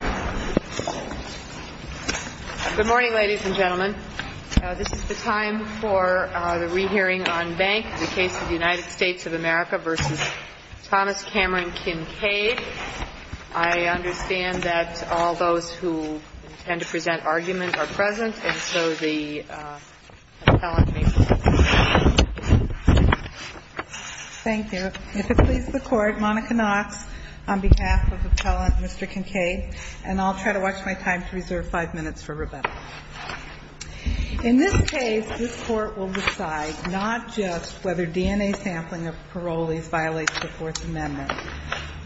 Good morning, ladies and gentlemen. This is the time for the re-hearing on Bank, the case of the United States of America v. Thomas Cameron Kincade. I understand that all those who intend to present argument are present, and so the appellant may proceed. Thank you. If it pleases the Court, Monica Knox on behalf of Appellant Mr. Kincade, and I'll try to watch my time to reserve five minutes for Rebecca. In this case, this Court will decide not just whether DNA sampling of parolees violates the Fourth Amendment,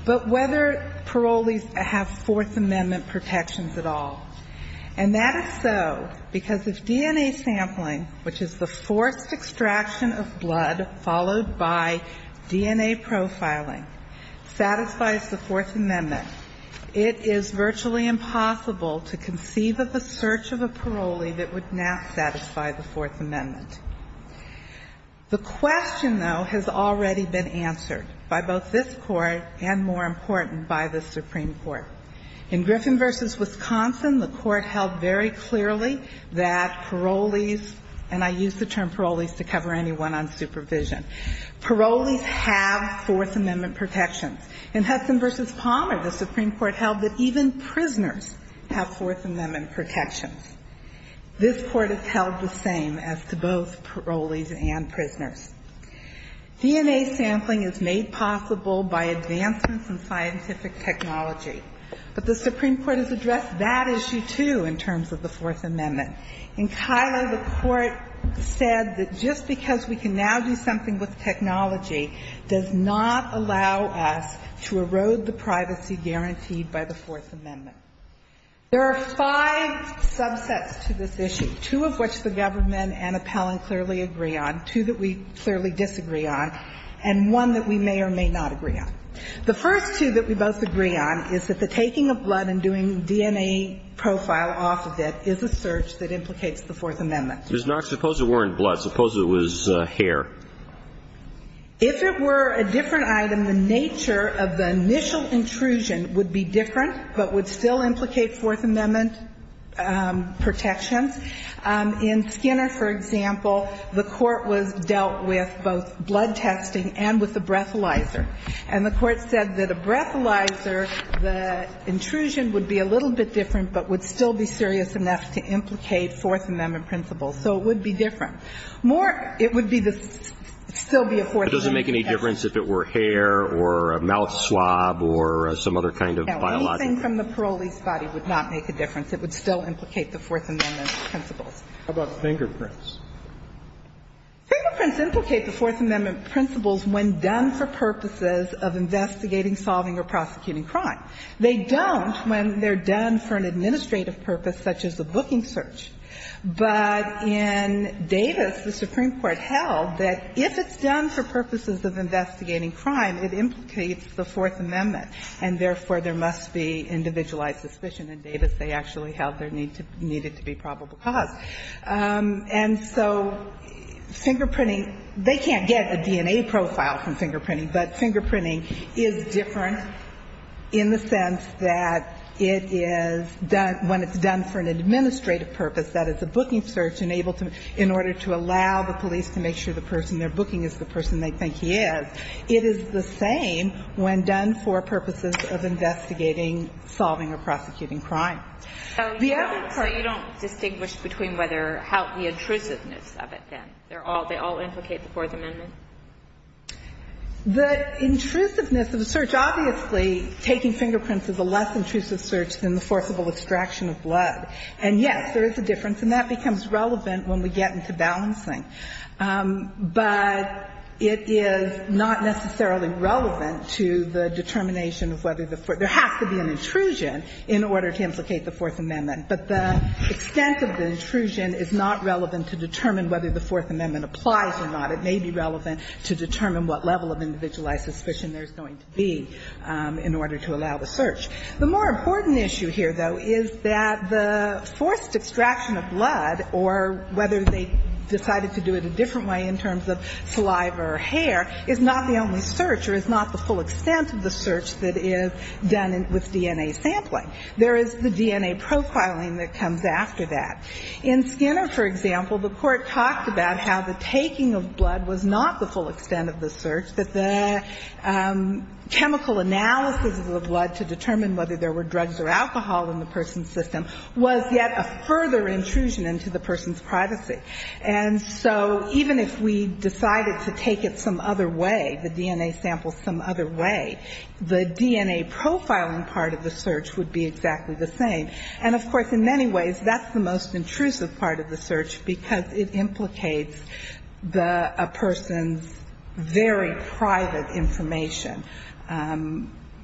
but whether parolees have Fourth Amendment protections at all. And that is so because if DNA sampling, which is the forced extraction of blood followed by DNA profiling, satisfies the Fourth Amendment, it is virtually impossible to conceive of a search of a parolee that would not satisfy the Fourth Amendment. The question, though, has already been answered by both this Court and, more important, by the Supreme Court. In Griffin v. Wisconsin, the Court held very that even prisoners have Fourth Amendment protections. This Court has held the same as to both parolees and prisoners. DNA sampling is made possible by advancements in scientific technology. But the Supreme Court has addressed that issue, too, in terms of the Fourth Amendment. In Kiley, the Court said that just because we can now do something with technology does not allow us to erode the privacy guaranteed by the Fourth Amendment. There are five subsets to this issue, two of which the government and appellant clearly agree on, two that we clearly disagree on, and one that we may or may not agree on. The first two that we both agree on is that taking a blood and doing DNA profile off of it is a search that implicates the Fourth Amendment. Ms. Knox, suppose it weren't blood. Suppose it was hair. If it were a different item, the nature of the initial intrusion would be different but would still implicate Fourth Amendment protections. In Skinner, for example, the Court was dealt with both blood testing and with a breathalyzer. And the Court said that a breathalyzer, the intrusion would be a little bit different but would still be serious enough to implicate Fourth Amendment principles. So it would be different. More, it would be the still be a Fourth Amendment. But it doesn't make any difference if it were hair or a mouth swab or some other kind of biological. No. Anything from the parolee's body would not make a difference. It would still implicate the Fourth Amendment principles. How about fingerprints? Fingerprints implicate the Fourth Amendment principles when done for purposes of investigating, solving, or prosecuting crime. They don't when they're done for an administrative purpose such as a booking search. But in Davis, the Supreme Court held that if it's done for purposes of investigating crime, it implicates the Fourth Amendment, and therefore, there must be individualized suspicion in Davis. They actually held there needed to be probable cause. And so fingerprinting, they can't get a DNA profile from fingerprinting, but fingerprinting is different in the sense that it is done when it's done for an administrative purpose, that is, a booking search in order to allow the police to make sure the person they're booking is the person they think he is. It is the same when done for purposes of investigating, solving, or prosecuting crime. The other thing you don't distinguish between whether how the intrusiveness of it, then. They're all, they all implicate the Fourth Amendment? The intrusiveness of the search, obviously, taking fingerprints is a less intrusive search than the forcible extraction of blood. And, yes, there is a difference, and that becomes relevant when we get into balancing. But it is not necessarily relevant to the determination of whether the Fourth Amendment. There has to be an intrusion in order to implicate the Fourth Amendment. But the extent of the intrusion is not relevant to determine whether the Fourth Amendment applies or not. It may be relevant to determine what level of individualized suspicion there's going to be in order to allow the search. The more important issue here, though, is that the forced extraction of blood or whether they decided to do it a different way in terms of saliva or hair is not the only search or is not the full extent of the search that is done with DNA sampling. There is the DNA profiling that comes after that. In Skinner, for example, the Court talked about how the taking of blood was not the full extent of the search, that the chemical analysis of the blood to determine whether there were drugs or alcohol in the person's system was yet a further intrusion into the person's privacy. And so even if we decided to take it some other way, the DNA samples some other way, the DNA profiling part of the search would be exactly the same. And of course, in many ways, that's the most intrusive part of the search because it implicates the person's very private information,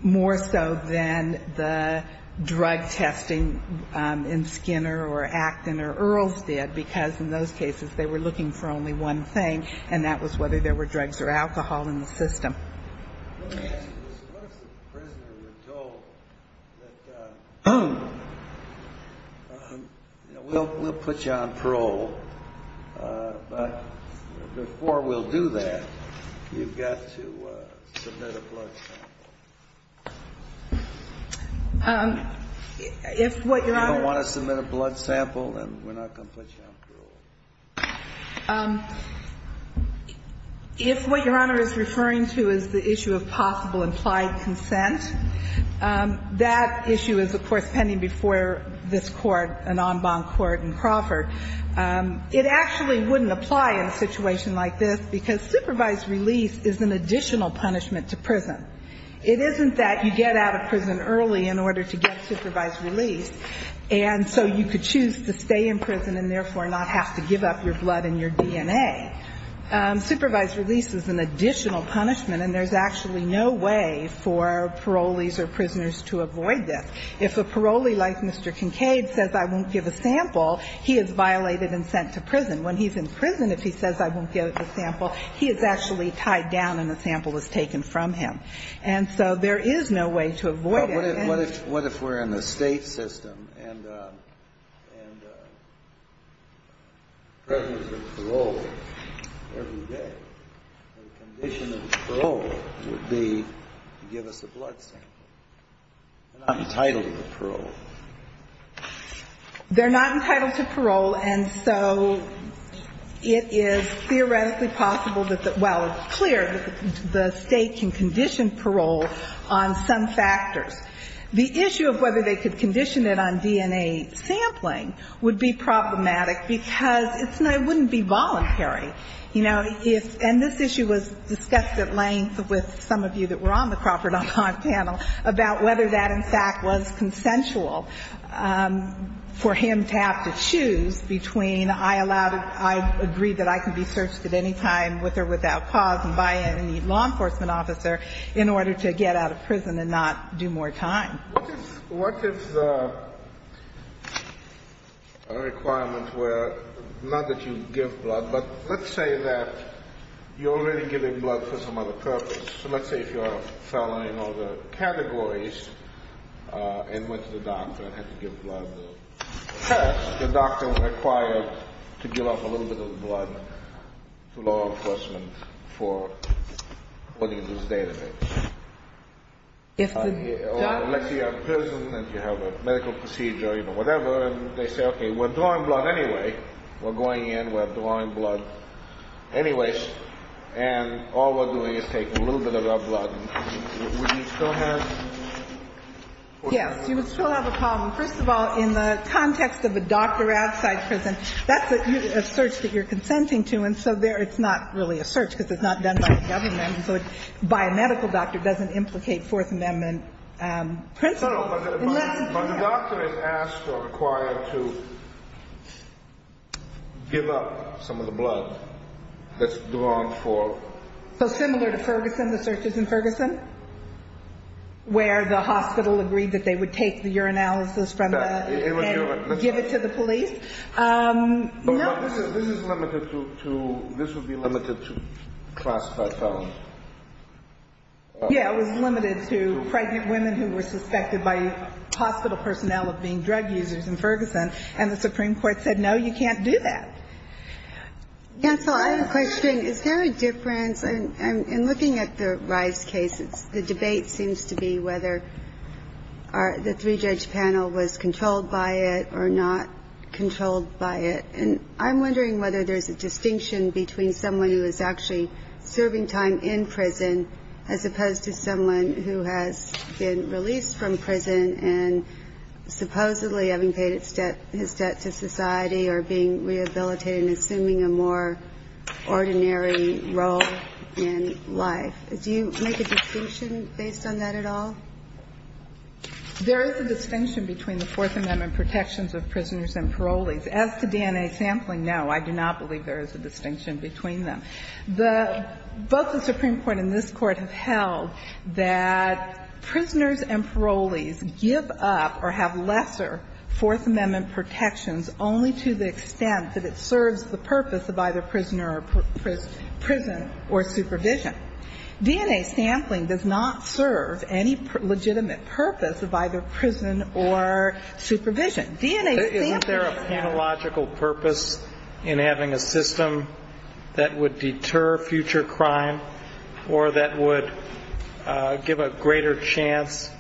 more so than the drug testing in Skinner or Acton or Earls did, because in those cases they were looking for only one thing, and that was whether there were drugs or alcohol in the system. We'll put you on parole, but before we'll do that, you've got to submit a blood sample. If what Your Honor is referring to is the issue of whether there were drugs or alcohol in the system, the issue of possible implied consent, that issue is, of course, pending before this Court, an en banc court in Crawford. It actually wouldn't apply in a situation like this because supervised release is an additional punishment to prison. It isn't that you get out of prison early in order to get supervised release, and so you could choose to stay in prison and therefore not have to give up your blood and your DNA. Supervised release is an additional punishment, and there's actually no way for parolees or prisoners to avoid this. If a parolee like Mr. Kincaid says, I won't give a sample, he is violated and sent to prison. When he's in prison, if he says, I won't give the sample, he is actually tied down and the sample is taken from him. And so there is no way to avoid it. And what if we're in the State system and prisoners are paroled every day? The condition of parole would be to give us a blood sample. They're not entitled to parole. They're not entitled to parole, and so it is theoretically possible that the – well, it's clear that the State can condition parole on some factors. It is theoretically possible that the State can condition parole on some factors. The issue of whether they could condition it on DNA sampling would be problematic because it's – it wouldn't be voluntary. You know, if – and this issue was discussed at length with some of you that were on the Crawford.com panel about whether that in fact was consensual for him to have to choose between I allowed – I agree that I can be searched at any time with or without cause by any law enforcement officer in order to get out of prison and not do more time. What if – what if the requirements were not that you give blood, but let's say that you're already giving blood for some other purpose. So let's say if you're a fellow in all the categories and went to the doctor and had to give blood. First, the doctor was required to give up a little bit of blood to law enforcement for putting this database. If the doctor – Or let's say you're in prison and you have a medical procedure, you know, whatever, and they say, okay, we're drawing blood anyway. We're going in, we're drawing blood anyways, and all we're doing is taking a little bit of our blood. Would you still have – Yes, you would still have a problem. First of all, in the context of a doctor outside prison, that's a search that you're consenting to, and so there it's not really a search because it's not done by the government, and so a biomedical doctor doesn't implicate Fourth Amendment principles. No, no, but the doctor is asked or required to give up some of the blood that's drawn for – So similar to Ferguson, the searches in Ferguson, where the hospital agreed that they would take the urinalysis from the – No, it would – Give it to the police? No. This is limited to – this would be limited to classified felons. Yeah, it was limited to pregnant women who were suspected by hospital personnel of being drug users in Ferguson, and the Supreme Court said, no, you can't do that. Counsel, I have a question. Is there a difference – in looking at the Rice case, the debate seems to be whether the three-judge panel was controlled by it or not controlled by it, and I'm wondering whether there's a distinction between someone who is actually serving time in prison as opposed to someone who has been released from prison and supposedly having paid his debt to society or being rehabilitated and assuming a more ordinary role in life. Do you make a distinction based on that at all? There is a distinction between the Fourth Amendment protections of prisoners and parolees. As to DNA sampling, no, I do not believe there is a distinction between them. Both the Supreme Court and this Court have held that prisoners and parolees give up or have lesser Fourth Amendment protections only to the extent that it serves the purpose of either prison or supervision. DNA sampling does not serve any legitimate purpose of either prison or supervision. DNA sampling is not – Isn't there a panological purpose in having a system that would deter future crime or that would give a greater chance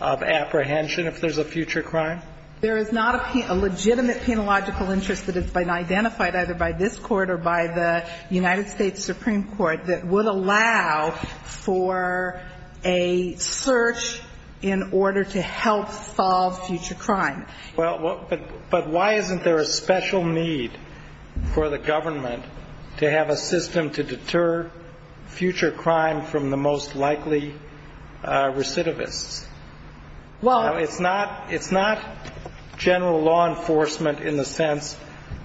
of apprehension if there's a future crime? There is not a legitimate panological interest that has been identified either by this Court or by the United States Supreme Court that would allow for a search in order to help solve future crime. But why isn't there a special need for the government to have a system to deter future crime from the most likely recidivists? Well – Well, it's not – it's not general law enforcement in the sense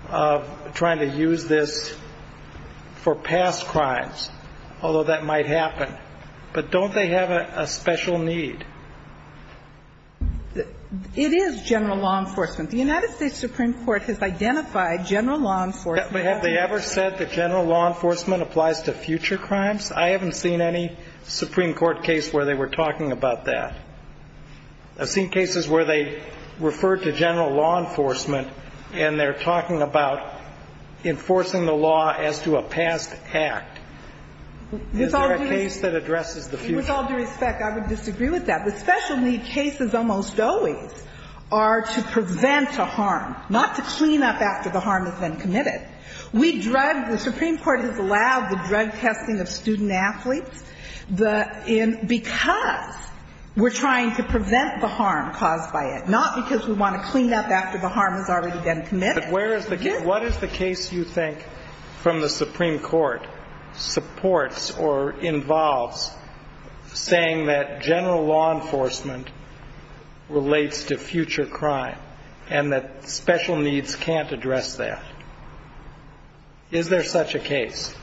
of trying to use this for past crimes, although that might happen. But don't they have a special need? It is general law enforcement. The United States Supreme Court has identified general law enforcement as a – Have they ever said that general law enforcement applies to future crimes? I haven't seen any Supreme Court case where they were talking about that. I've seen cases where they referred to general law enforcement and they're talking about enforcing the law as to a past act. Is there a case that addresses the future? With all due respect, I would disagree with that. The special need cases almost always are to prevent a harm, not to clean up after the harm has been committed. We drug – the Supreme Court has allowed the drug testing of student-athletes because we're trying to prevent the harm caused by it, not because we want to clean up after the harm has already been committed. But where is the – what is the case you think from the Supreme Court supports or involves saying that general law enforcement relates to future crime and that special needs can't address that? Is there such a case?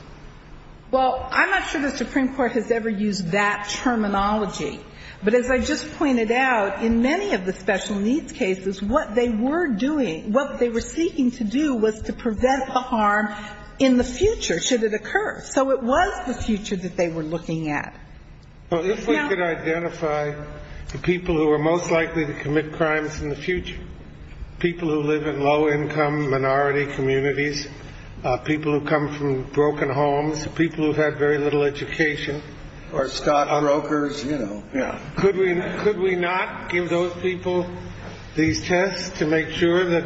Well, I'm not sure the Supreme Court has ever used that terminology. But as I just pointed out, in many of the special needs cases, what they were doing – what they were seeking to do was to prevent the harm in the future should it occur. So it was the future that they were looking at. Well, if we could identify the people who are most likely to commit crimes in the future, people who live in low-income minority communities, people who come from broken homes, people who have had very little education. Or stockbrokers, you know. Yeah. Could we not give those people these tests to make sure that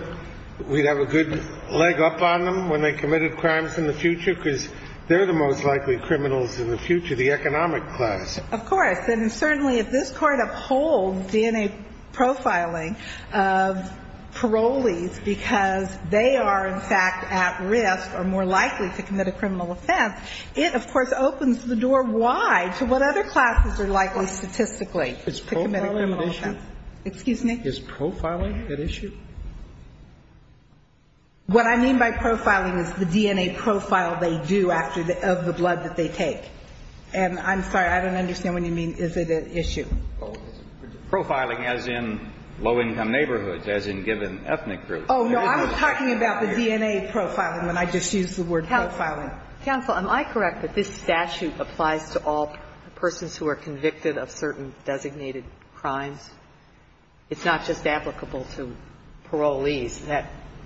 we'd have a good leg up on them when they committed crimes in the future? Because they're the most likely criminals in the future, the economic class. Of course. And certainly if this Court upholds DNA profiling of parolees because they are, in fact, at risk or more likely to commit a criminal offense, it, of course, opens the door wide to what other classes are likely statistically to commit a criminal Is profiling an issue? Excuse me? Is profiling an issue? What I mean by profiling is the DNA profile they do after the – of the blood that they take. And I'm sorry, I don't understand what you mean, is it an issue? Profiling as in low-income neighborhoods, as in given ethnic groups. Oh, no. I was talking about the DNA profiling when I just used the word profiling. Counsel, am I correct that this statute applies to all persons who are convicted of certain designated crimes? It's not just applicable to parolees.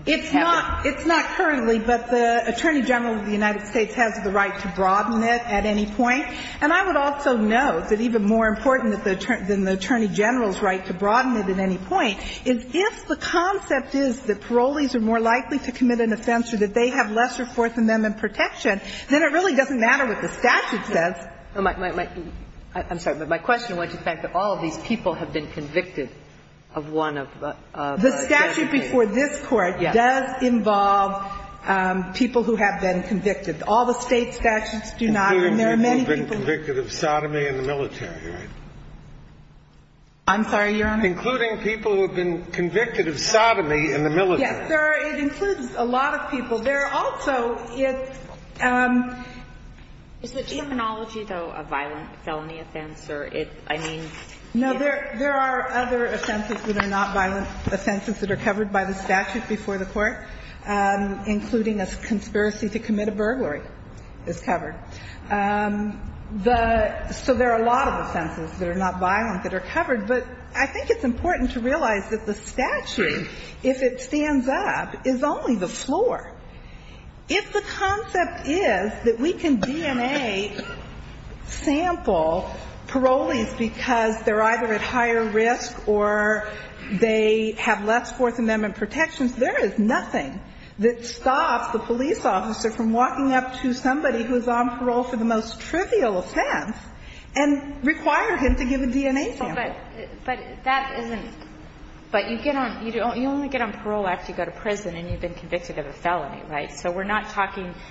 It's not currently, but the Attorney General of the United States has the right to broaden it at any point. And I would also note that even more important than the Attorney General's right to broaden it at any point is if the concept is that parolees are more likely to commit an offense or that they have lesser Fourth Amendment protection, then it really doesn't matter what the statute says. I'm sorry. But my question went to the fact that all of these people have been convicted of one of the – The statute before this Court does involve people who have been convicted. All the State statutes do not. And there are many people who have been convicted of sodomy in the military, including people who have been convicted of sodomy in the military. Yes, sir. It includes a lot of people. There are also – Is the terminology, though, a violent felony offense? No, there are other offenses that are not violent offenses that are covered by the statute before the Court, including a conspiracy to commit a burglary is covered. So there are a lot of offenses that are not violent that are covered. But I think it's important to realize that the statute, if it stands up, is only the floor. If the concept is that we can DNA sample parolees because they're either at higher risk or they have less Fourth Amendment protections, there is nothing that stops the police officer from walking up to somebody who's on parole for the most trivial offense and require him to give a DNA sample. But that isn't – but you get on – you only get on parole after you go to prison and you've been convicted of a felony, right? So we're not talking –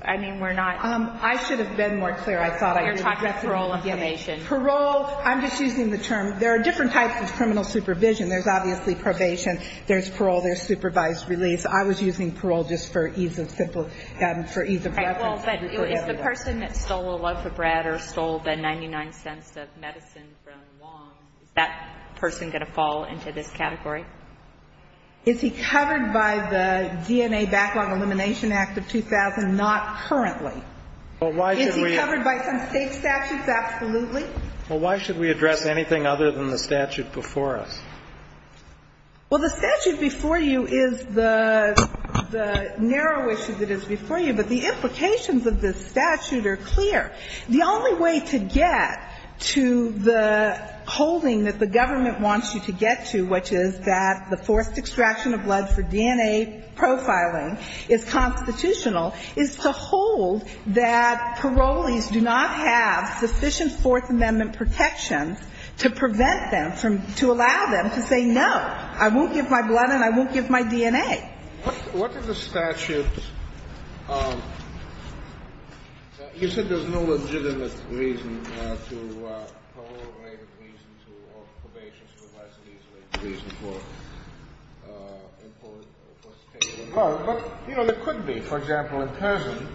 I mean, we're not – I should have been more clear. I thought I was – You're talking about parole and probation. Parole – I'm just using the term. There are different types of criminal supervision. There's obviously probation. There's parole. There's supervised release. I was using parole just for ease of simple – for ease of reference. Well, but if the person that stole a loaf of bread or stole the 99 cents of medicine from Wong, is that person going to fall into this category? Is he covered by the DNA Backlog Elimination Act of 2000? Not currently. Well, why should we – Is he covered by some state statutes? Absolutely. Well, why should we address anything other than the statute before us? Well, the statute before you is the narrow issue that is before you, but the implications of this statute are clear. The only way to get to the holding that the government wants you to get to, which is that the forced extraction of blood for DNA profiling is constitutional, is to hold that parolees do not have sufficient Fourth Amendment protections to prevent them from – to allow them to say, no, I won't give my blood and I won't give my DNA. What if the statute – you said there's no legitimate reason to – parole-related reasons or probation-related reasons for imported or forced extraction of blood. But, you know, there could be. For example, in prison,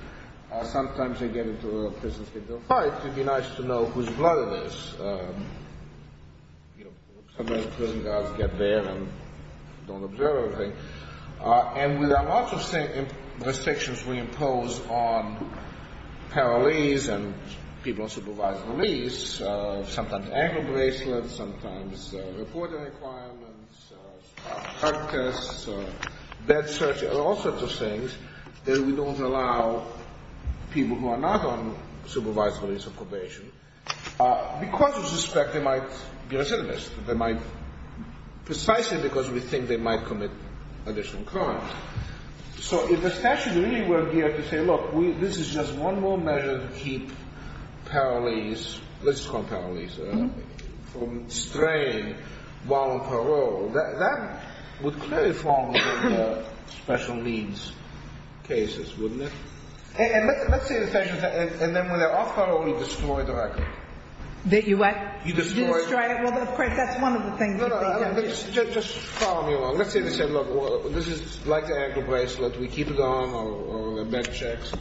sometimes they get into a prison situation. In fact, it would be nice to know whose blood it is. Sometimes prison guards get there and don't observe everything. And there are lots of restrictions we impose on parolees and people on supervised release, sometimes ankle bracelets, sometimes reporting requirements, drug tests, bed searches, all sorts of things, that we don't allow people who are not on supervised release or probation because we suspect they might be recidivists. They might – precisely because we think they might commit additional crimes. So if the statute really were here to say, look, this is just one more measure to keep parolees – let's call them parolees – from straying while on parole, that would clearly fall within the special needs cases, wouldn't it? And let's say the statute – and then when they're off parole, you destroy the record. You destroy it? Well, of course, that's one of the things that they don't do. No, no, just follow me along. Let's say they say, look, this is like the ankle bracelet. We keep it on or bed checks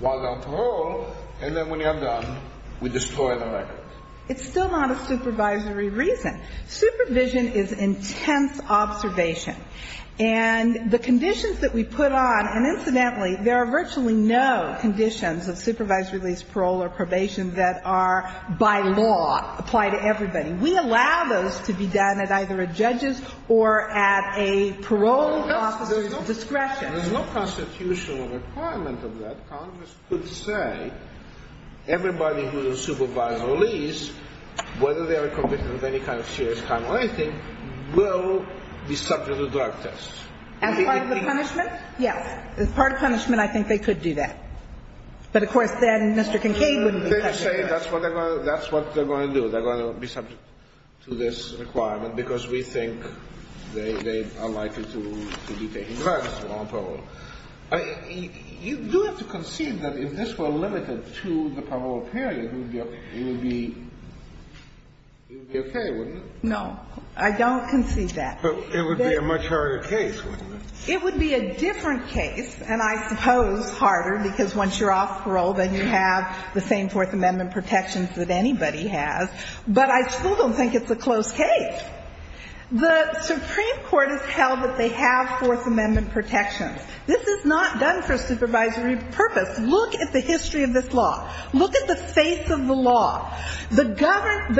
while on parole. And then when you're done, we destroy the record. It's still not a supervisory reason. Supervision is intense observation. And the conditions that we put on – and incidentally, there are virtually no conditions of supervised release, parole, or probation that are by law apply to everybody. We allow those to be done at either a judge's or at a parole officer's discretion. There is no constitutional requirement of that. Congress could say everybody who is on supervised release, whether they are a convict with any kind of serious crime or anything, will be subject to drug tests. As part of the punishment? Yes. As part of punishment, I think they could do that. But, of course, then Mr. Kincaid wouldn't be subject to that. They could say that's what they're going to do. They're going to be subject to this requirement because we think they are likely to be taking drugs while on parole. You do have to concede that if this were limited to the parole period, it would be okay, wouldn't it? No. I don't concede that. But it would be a much harder case, wouldn't it? It would be a different case, and I suppose harder, because once you're off parole, then you have the same Fourth Amendment protections that anybody has. But I still don't think it's a close case. The Supreme Court has held that they have Fourth Amendment protections. This is not done for supervisory purpose. Look at the history of this law. Look at the face of the law. The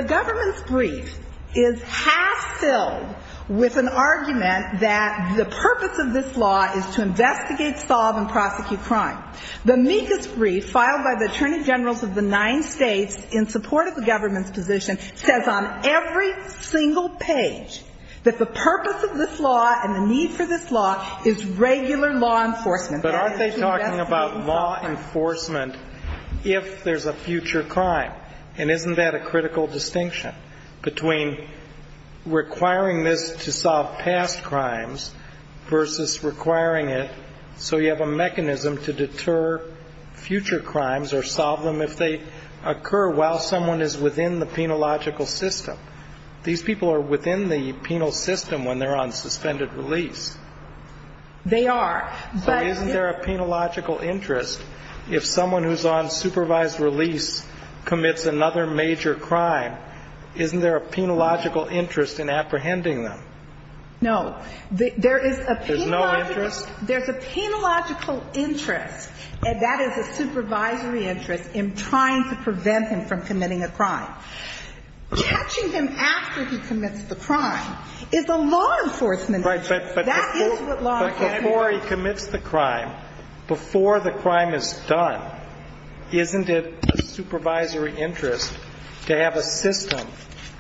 government's brief is half-filled with an argument that the purpose of this law is to investigate, solve, and prosecute crime. The meekest brief filed by the attorney generals of the nine states in support of the government's position says on every single page that the purpose of this law and the need for this law is regular law enforcement. But aren't they talking about law enforcement if there's a future crime? And isn't that a critical distinction between requiring this to solve past crimes versus requiring it so you have a mechanism to deter future crimes or solve them if they occur while someone is within the penological system? These people are within the penal system when they're on suspended release. They are. But isn't there a penological interest if someone who's on supervised release commits another major crime, isn't there a penological interest in apprehending them? No. There is a penological interest. There's a penological interest, and that is a supervisory interest, in trying to prevent him from committing a crime. Catching him after he commits the crime is a law enforcement issue. Right, but before he commits the crime, before the crime is done, isn't it a supervisory interest to have a system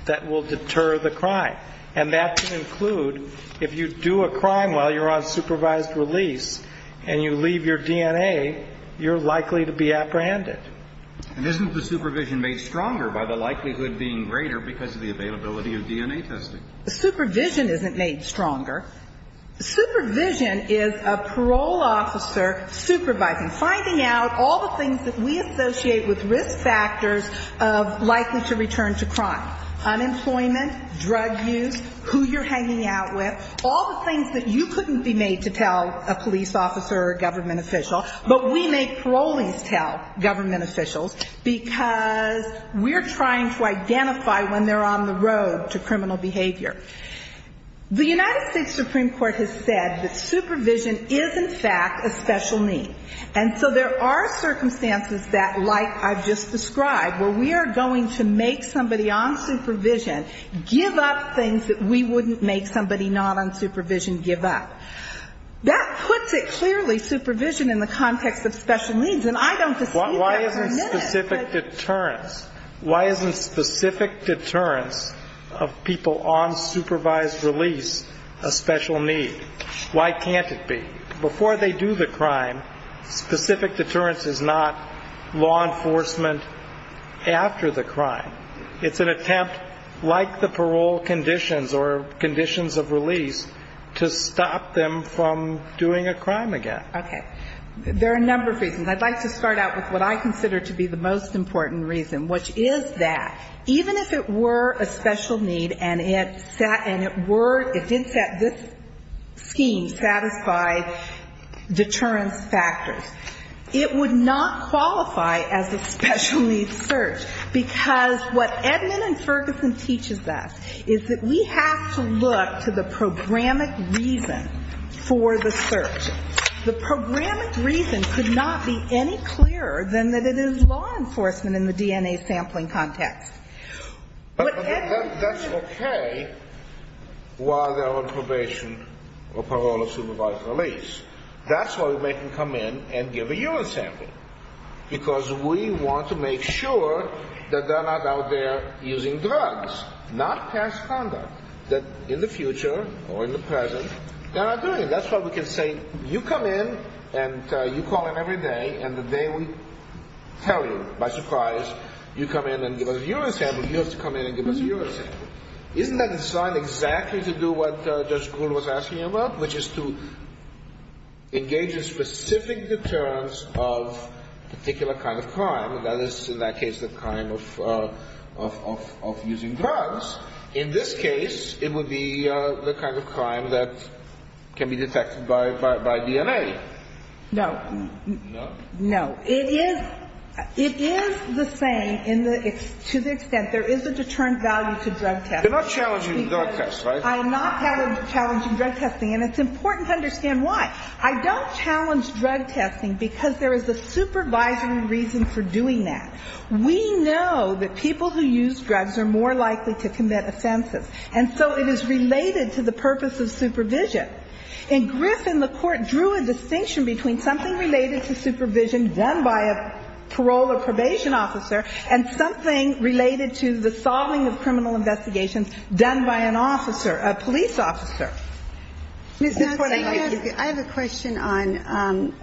that will deter the crime? And that can include if you do a crime while you're on supervised release and you leave your DNA, you're likely to be apprehended. And isn't the supervision made stronger by the likelihood being greater because of the availability of DNA testing? Supervision isn't made stronger. Supervision is a parole officer supervising, finding out all the things that we associate with risk factors of likely to return to crime. Unemployment, drug use, who you're hanging out with, all the things that you couldn't be made to tell a police officer or a government official, but we make parolings tell government officials because we're trying to identify when they're on the road to criminal behavior. The United States Supreme Court has said that supervision is, in fact, a special need. And so there are circumstances that, like I've just described, where we are going to make somebody on supervision give up things that we wouldn't make somebody not on supervision give up. That puts it clearly, supervision, in the context of special needs. And I don't see that permitted. Why isn't specific deterrence, why isn't specific deterrence of people on supervised release a special need? Why can't it be? Before they do the crime, specific deterrence is not law enforcement after the crime. It's an attempt, like the parole conditions or conditions of release, to stop them from doing a crime again. Okay. There are a number of reasons. I'd like to start out with what I consider to be the most important reason, which is that even if it were a special need and it were, it did set this scheme satisfied deterrence factors, it would not qualify as a special needs search, because what Edmund and Ferguson teaches us is that we have to look to the programmatic reason for the search. The programmatic reason could not be any clearer than that it is law enforcement in the DNA sampling context. That's okay while they're on probation or parole or supervised release. That's why we make them come in and give a urine sample, because we want to make sure that they're not out there using drugs, not past conduct, that in the future or in the present they're not doing it. That's why we can say you come in and you call in every day and the day we tell you, by surprise, you come in and give us a urine sample, you have to come in and give us a urine sample. Isn't that designed exactly to do what Judge Gould was asking about, which is to engage in specific deterrence of a particular kind of crime? That is, in that case, the crime of using drugs. In this case, it would be the kind of crime that can be detected by DNA. No. No? No. It is the same to the extent there is a deterrent value to drug testing. You're not challenging drug testing, right? I am not challenging drug testing, and it's important to understand why. I don't challenge drug testing because there is a supervisory reason for doing that. We know that people who use drugs are more likely to commit offenses, and so it is related to the purpose of supervision. In Griffin, the Court drew a distinction between something related to supervision done by a parole or probation officer and something related to the solving of criminal investigations done by an officer, a police officer. Ms. Nelson, I have a question on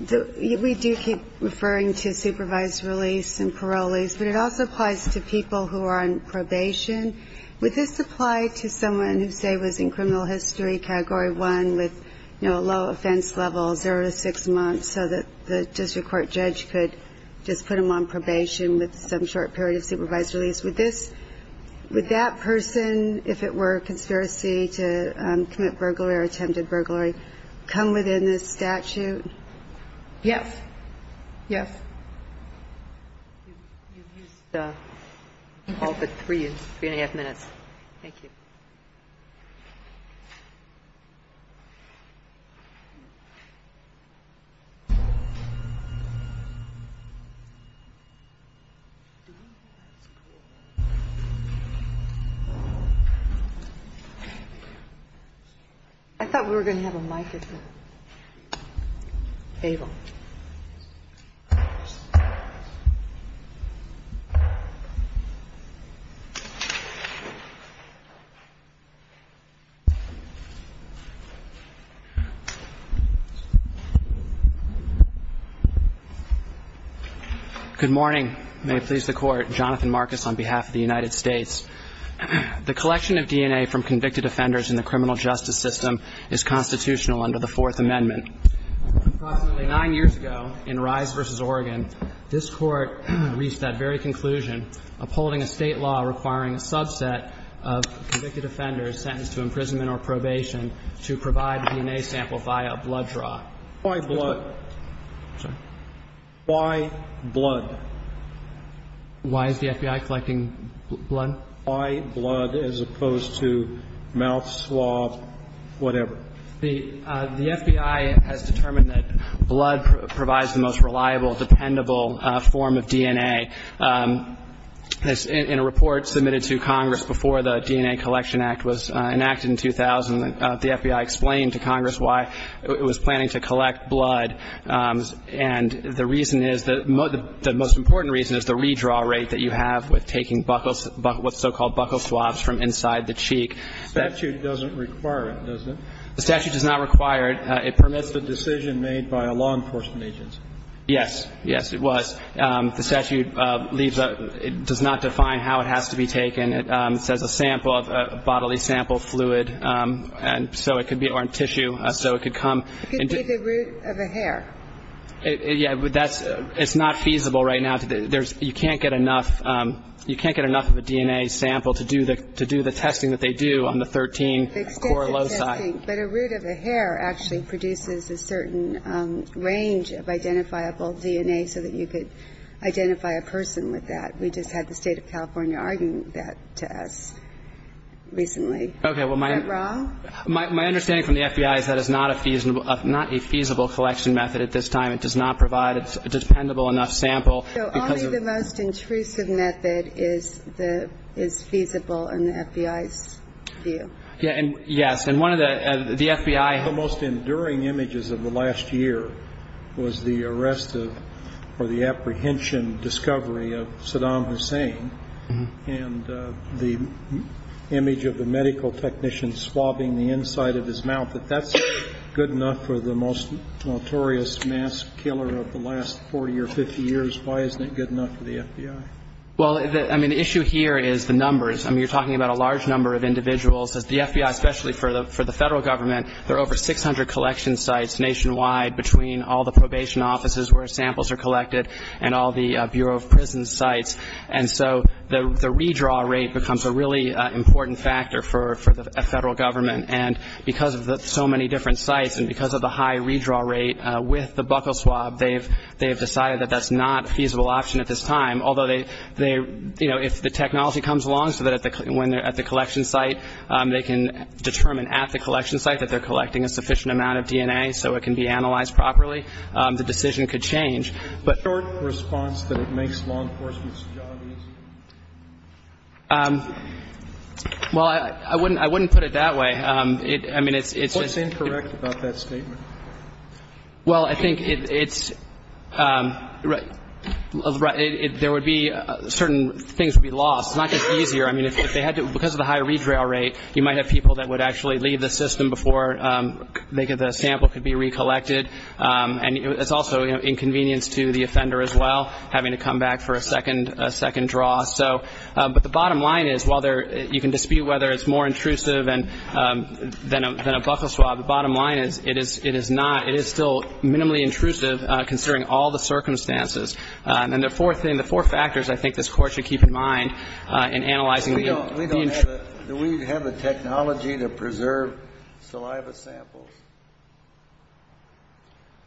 the ‑‑ we do keep referring to supervised release and parolees, but it also applies to people who are on probation. Would this apply to someone who, say, was in criminal history category 1 with a low offense level, zero to six months, so that the district court judge could just put them on probation with some short period of supervised release? Would that person, if it were a conspiracy to commit burglary or attempted burglary, come within this statute? Yes. Yes. You've used all but three and a half minutes. Thank you. I thought we were going to have a microphone. Abel. Good morning. May it please the Court. Jonathan Marcus on behalf of the United States. The collection of DNA from convicted offenders in the criminal justice system is constitutional under the Fourth Amendment. Approximately nine years ago, in Rise v. Oregon, this Court reached that very conclusion, upholding a state law requiring a subset of convicted offenders sentenced to imprisonment or probation to provide a DNA sample via a blood draw. Why blood? Sorry? Why blood? Why is the FBI collecting blood? Why blood as opposed to mouth swab, whatever. The FBI has determined that blood provides the most reliable, dependable form of DNA. In a report submitted to Congress before the DNA Collection Act was enacted in 2000, the FBI explained to Congress why it was planning to collect blood. And the reason is, the most important reason is the redraw rate that you have with taking buckles, what's so-called buckle swabs from inside the cheek. The statute doesn't require it, does it? The statute does not require it. It permits the decision made by a law enforcement agency. Yes. Yes, it was. The statute leaves a, it does not define how it has to be taken. It says a sample, a bodily sample fluid, and so it could be, or tissue, so it could come. It could be the root of a hair. Yeah, but that's, it's not feasible right now. There's, you can't get enough, you can't get enough of a DNA sample to do the, to do the testing that they do on the 13 coralloci. Extensive testing, but a root of a hair actually produces a certain range of identifiable DNA so that you could identify a person with that. We just had the State of California argue that to us recently. Okay, well my. Is that wrong? My understanding from the FBI is that is not a feasible, not a feasible collection method at this time. It does not provide a dependable enough sample. So only the most intrusive method is the, is feasible in the FBI's view. Yeah, and yes, and one of the, the FBI. One of the most enduring images of the last year was the arrest of, or the apprehension discovery of Saddam Hussein and the image of a medical technician swabbing the inside of his mouth. If that's good enough for the most notorious mass killer of the last 40 or 50 years, why isn't it good enough for the FBI? Well, I mean, the issue here is the numbers. I mean, you're talking about a large number of individuals. The FBI, especially for the Federal Government, there are over 600 collection sites nationwide between all the probation offices where samples are collected and all the Bureau of Prisons sites. And so the redraw rate becomes a really important factor for the Federal Government. And because of so many different sites and because of the high redraw rate with the buckle swab, they have decided that that's not a feasible option at this time. Although they, you know, if the technology comes along so that when they're at the collection site, they can determine at the collection site that they're collecting a sufficient amount of DNA so it can be analyzed properly, the decision could change. But the short response that it makes law enforcement's job easier? Well, I wouldn't put it that way. I mean, it's just – What's incorrect about that statement? Well, I think it's – there would be – certain things would be lost. It's not just easier. I mean, if they had to – because of the high redraw rate, you might have people that would actually leave the system before the sample could be recollected. And it's also inconvenience to the offender as well, having to come back for a second draw. So – but the bottom line is, while you can dispute whether it's more intrusive than a buckle swab, the bottom line is it is not. It is still minimally intrusive considering all the circumstances. And the fourth thing, the four factors I think this Court should keep in mind in analyzing the – Do we have the technology to preserve saliva samples?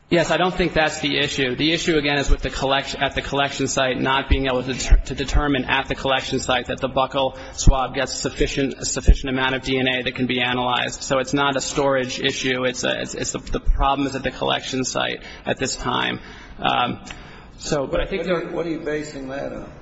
Yes, I don't think that's the issue. The issue, again, is with the – at the collection site, not being able to determine at the collection site that the buckle swab gets a sufficient amount of DNA that can be analyzed. So it's not a storage issue. The problem is at the collection site at this time. What are you basing that on?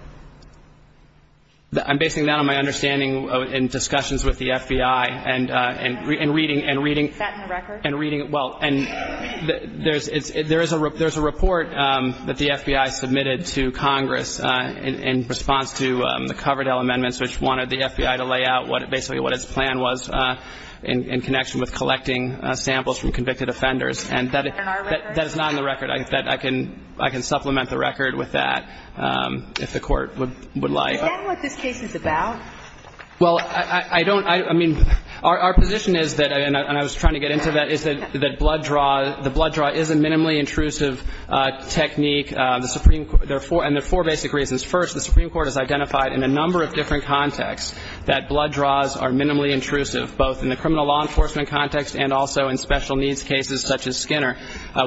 I'm basing that on my understanding in discussions with the FBI and reading – Is that in the record? And reading – well, there's a report that the FBI submitted to Congress in response to the Coverdell Amendments, which wanted the FBI to lay out basically what its plan was in connection with collecting samples from convicted offenders. Is that in our record? That is not in the record. I can supplement the record with that if the Court would like. Is that what this case is about? Well, I don't – I mean, our position is that – and I was trying to get into that – is that blood draw – the blood draw is a minimally intrusive technique. The Supreme – there are four – and there are four basic reasons. First, the Supreme Court has identified in a number of different contexts that blood draws are minimally intrusive, both in the criminal law enforcement context and also in special needs cases such as Skinner,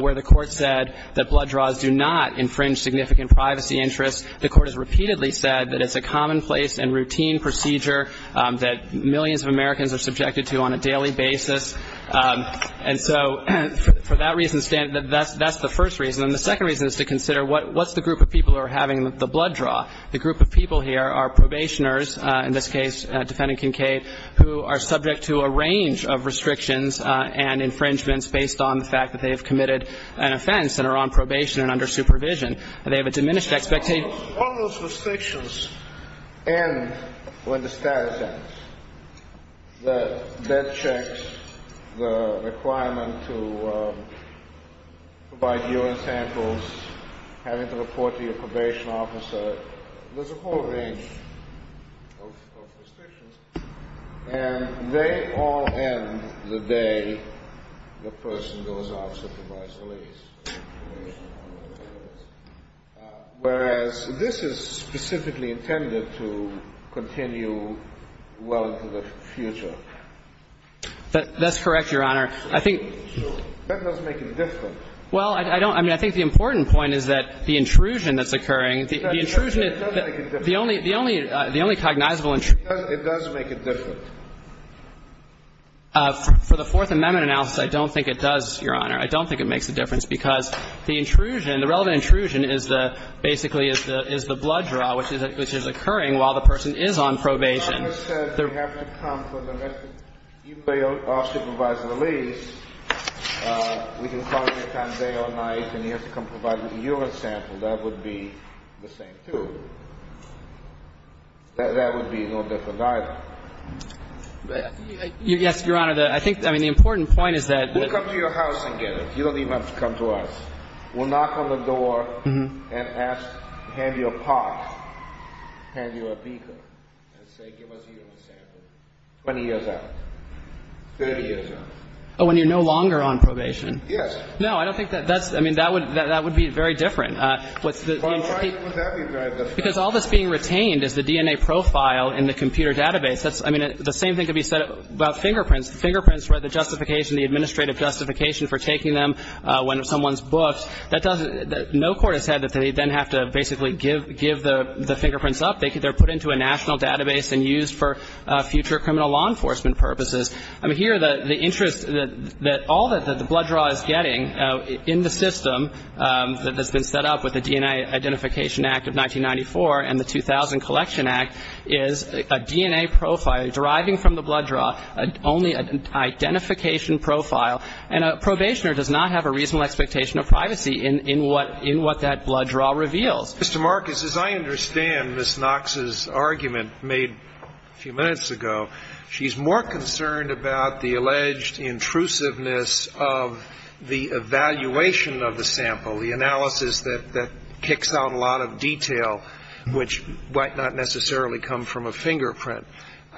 where the Court said that blood draws do not infringe significant privacy interests. The Court has repeatedly said that it's a commonplace and routine procedure that millions of Americans are subjected to on a daily basis. And so for that reason – that's the first reason. And the second reason is to consider what's the group of people who are having the blood draw. The group of people here are probationers, in this case, defendant Kincaid, who are subject to a range of restrictions and infringements based on the fact that they have committed an offense and are on probation and under supervision. They have a diminished expectation. All those restrictions end when the status ends, the debt checks, the requirement to provide urine samples, having to report to your probation officer. There's a whole range of restrictions. And they all end the day the person goes off to provide solace. Whereas this is specifically intended to continue well into the future. That's correct, Your Honor. I think – That doesn't make a difference. Well, I don't – I mean, I think the important point is that the intrusion that's occurring, the intrusion – That doesn't make a difference. The only – the only – the only cognizable – It does make a difference. For the Fourth Amendment analysis, I don't think it does, Your Honor. I don't think it makes a difference because the intrusion, the relevant intrusion, is the – basically is the blood draw, which is occurring while the person is on probation. If the officer said they're having to come for the rest of – you pay off supervisor the lease. We can call him any time, day or night, and he has to come provide the urine sample. That would be the same, too. That would be no different, either. Yes, Your Honor. I think – I mean, the important point is that – We'll come to your house and get it. You don't even have to come to us. We'll knock on the door and ask – hand you a pot, hand you a beaker, and say, give us a urine sample 20 years out, 30 years out. Oh, when you're no longer on probation? Yes. No, I don't think that's – I mean, that would – that would be very different. Well, why would that be very different? Because all that's being retained is the DNA profile in the computer database. That's – I mean, the same thing could be said about fingerprints. Fingerprints, where the justification, the administrative justification for taking them when someone's booked, that doesn't – no court has said that they then have to basically give the fingerprints up. They're put into a national database and used for future criminal law enforcement purposes. I mean, here, the interest that all that the blood draw is getting in the system that has been set up with the DNA Identification Act of 1994 and the 2000 Collection Act is a DNA profile deriving from the blood draw, only an identification profile. And a probationer does not have a reasonable expectation of privacy in what – in what that blood draw reveals. Mr. Marcus, as I understand Ms. Knox's argument made a few minutes ago, she's more concerned about the alleged intrusiveness of the evaluation of the sample, the analysis that kicks out a lot of detail, which might not necessarily come from a fingerprint.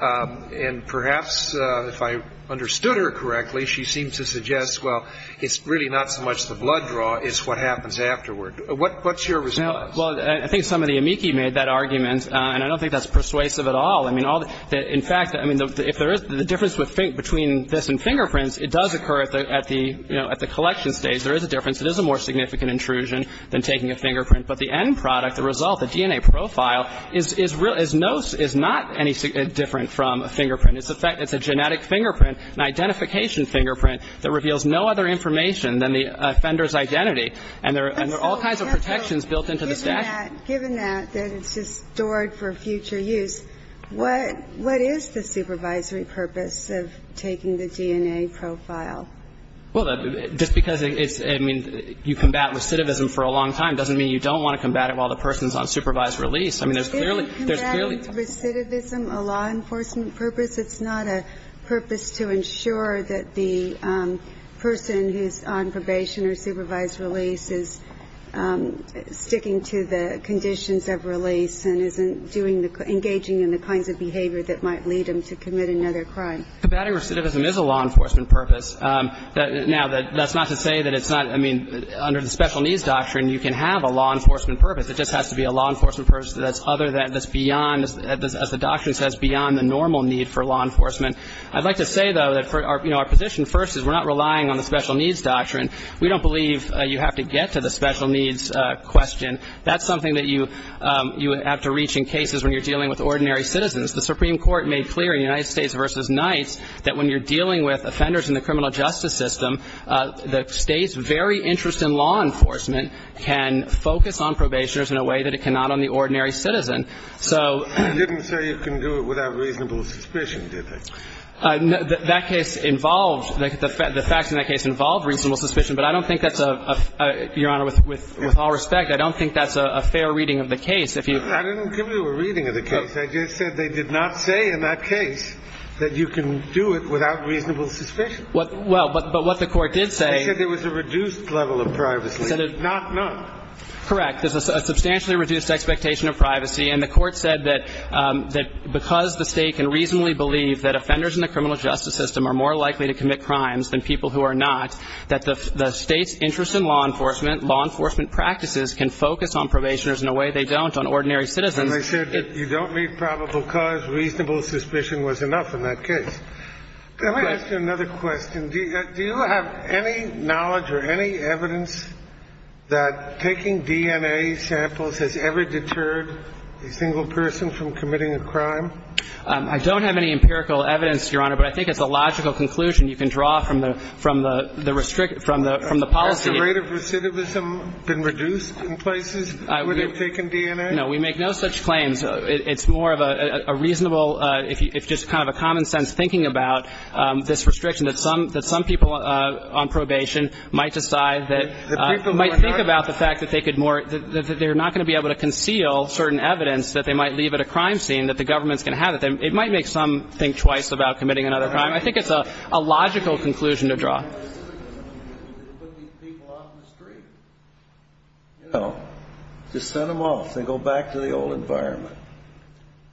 And perhaps if I understood her correctly, she seems to suggest, well, it's really not so much the blood draw, it's what happens afterward. What's your response? Well, I think some of the amici made that argument, and I don't think that's persuasive at all. I mean, all the – in fact, I mean, if there is – the difference between this and fingerprints, it does occur at the, you know, at the collection stage. There is a difference. It is a more significant intrusion than taking a fingerprint. But the end product, the result, the DNA profile, is real – is no – is not any different from a fingerprint. It's the fact that it's a genetic fingerprint, an identification fingerprint that reveals no other information than the offender's identity. And there are all kinds of protections built into the statute. Given that, given that, that it's just stored for future use, what – what is the supervisory purpose of taking the DNA profile? Well, just because it's – I mean, you combat recidivism for a long time doesn't mean you don't want to combat it while the person's on supervised release. I mean, there's clearly – there's clearly – Isn't combatting recidivism a law enforcement purpose? It's not a purpose to ensure that the person who's on probation or supervised release is sticking to the conditions of release and isn't doing the – engaging in the kinds of behavior that might lead them to commit another crime. Combatting recidivism is a law enforcement purpose. Now, that's not to say that it's not – I mean, under the special needs doctrine, you can have a law enforcement purpose. It just has to be a law enforcement purpose that's other than – that's beyond – as the doctrine says, beyond the normal need for law enforcement. I'd like to say, though, that for – you know, our position first is we're not relying on the special needs doctrine. We don't believe you have to get to the special needs question. That's something that you have to reach in cases when you're dealing with ordinary citizens. The Supreme Court made clear in United States v. Knights that when you're dealing with offenders in the criminal justice system, the state's very interest in law enforcement can focus on probationers in a way that it cannot on the ordinary citizen. So – You didn't say you can do it without reasonable suspicion, did you? That case involves – the facts in that case involve reasonable suspicion, but I don't think that's a – Your Honor, with all respect, I don't think that's a fair reading of the case. I didn't give you a reading of the case. I just said they did not say in that case that you can do it without reasonable suspicion. Well, but what the Court did say – They said there was a reduced level of privacy, not none. Correct. There's a substantially reduced expectation of privacy, and the Court said that because the state can reasonably believe that offenders in the criminal justice system are more likely to commit crimes than people who are not, that the state's interest in law enforcement, law enforcement practices can focus on probationers in a way they don't on ordinary citizens. And they said that you don't need probable cause, reasonable suspicion was enough in that case. Let me ask you another question. Do you have any knowledge or any evidence that taking DNA samples has ever deterred a single person from committing a crime? I don't have any empirical evidence, Your Honor, but I think it's a logical conclusion you can draw from the – from the policy. Has the rate of recidivism been reduced in places where they've taken DNA? No, we make no such claims. It's more of a reasonable, if just kind of a common sense thinking about this restriction that some people on probation might decide that – might think about the fact that they could more – that they're not going to be able to conceal certain evidence that they might leave at a crime scene, that the government's going to have it. It might make some think twice about committing another crime. I think it's a logical conclusion to draw. Just send them off. They go back to the old environment.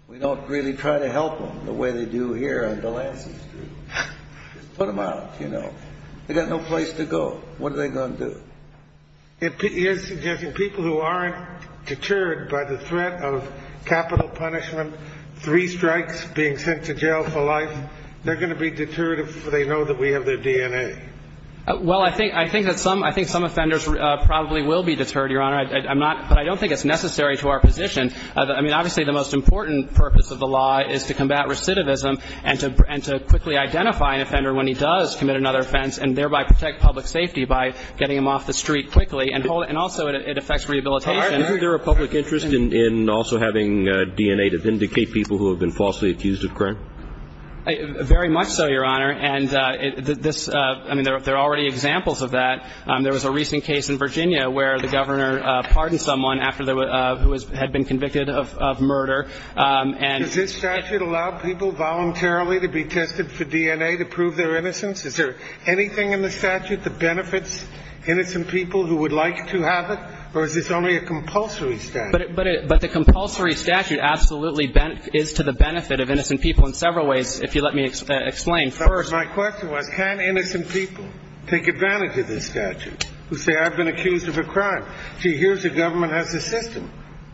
We don't really try to help them the way they do here on Delancey Street. Just put them out, you know. They've got no place to go. What are they going to do? It is suggesting people who aren't deterred by the threat of capital punishment, three strikes, being sent to jail for life, they're going to be deterred if they know that we have their DNA. Well, I think – I think that some – I think some offenders probably will be deterred, Your Honor. I'm not – but I don't think it's necessary to our position. I mean, obviously, the most important purpose of the law is to combat recidivism and to – and to quickly identify an offender when he does commit another offense and thereby protect public safety by getting him off the street quickly. And also, it affects rehabilitation. Isn't there a public interest in also having DNA to vindicate people who have been falsely accused of crime? Very much so, Your Honor. And this – I mean, there are already examples of that. There was a recent case in Virginia where the governor pardoned someone after – who had been convicted of murder. Does this statute allow people voluntarily to be tested for DNA to prove their innocence? Is there anything in the statute that benefits innocent people who would like to have it? Or is this only a compulsory statute? But the compulsory statute absolutely is to the benefit of innocent people in several ways, if you let me explain first. My question was, can innocent people take advantage of this statute who say, I've been accused of a crime? See, here's a government-assisted system.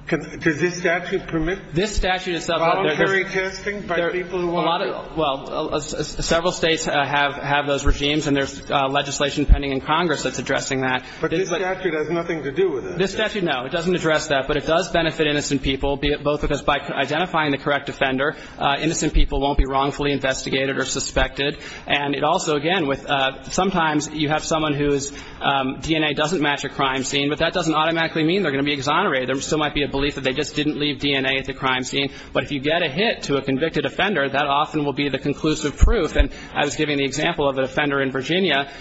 Does this statute permit voluntary testing by people who want to? Well, several states have those regimes, and there's legislation pending in Congress that's addressing that. But this statute has nothing to do with that. This statute, no. It doesn't address that. But it does benefit innocent people, both because by identifying the correct offender, innocent people won't be wrongfully investigated or suspected. And it also, again, with – sometimes you have someone whose DNA doesn't match a crime scene, but that doesn't automatically mean they're going to be exonerated. There still might be a belief that they just didn't leave DNA at the crime scene. But if you get a hit to a convicted offender, that often will be the conclusive proof. And I was giving the example of an offender in Virginia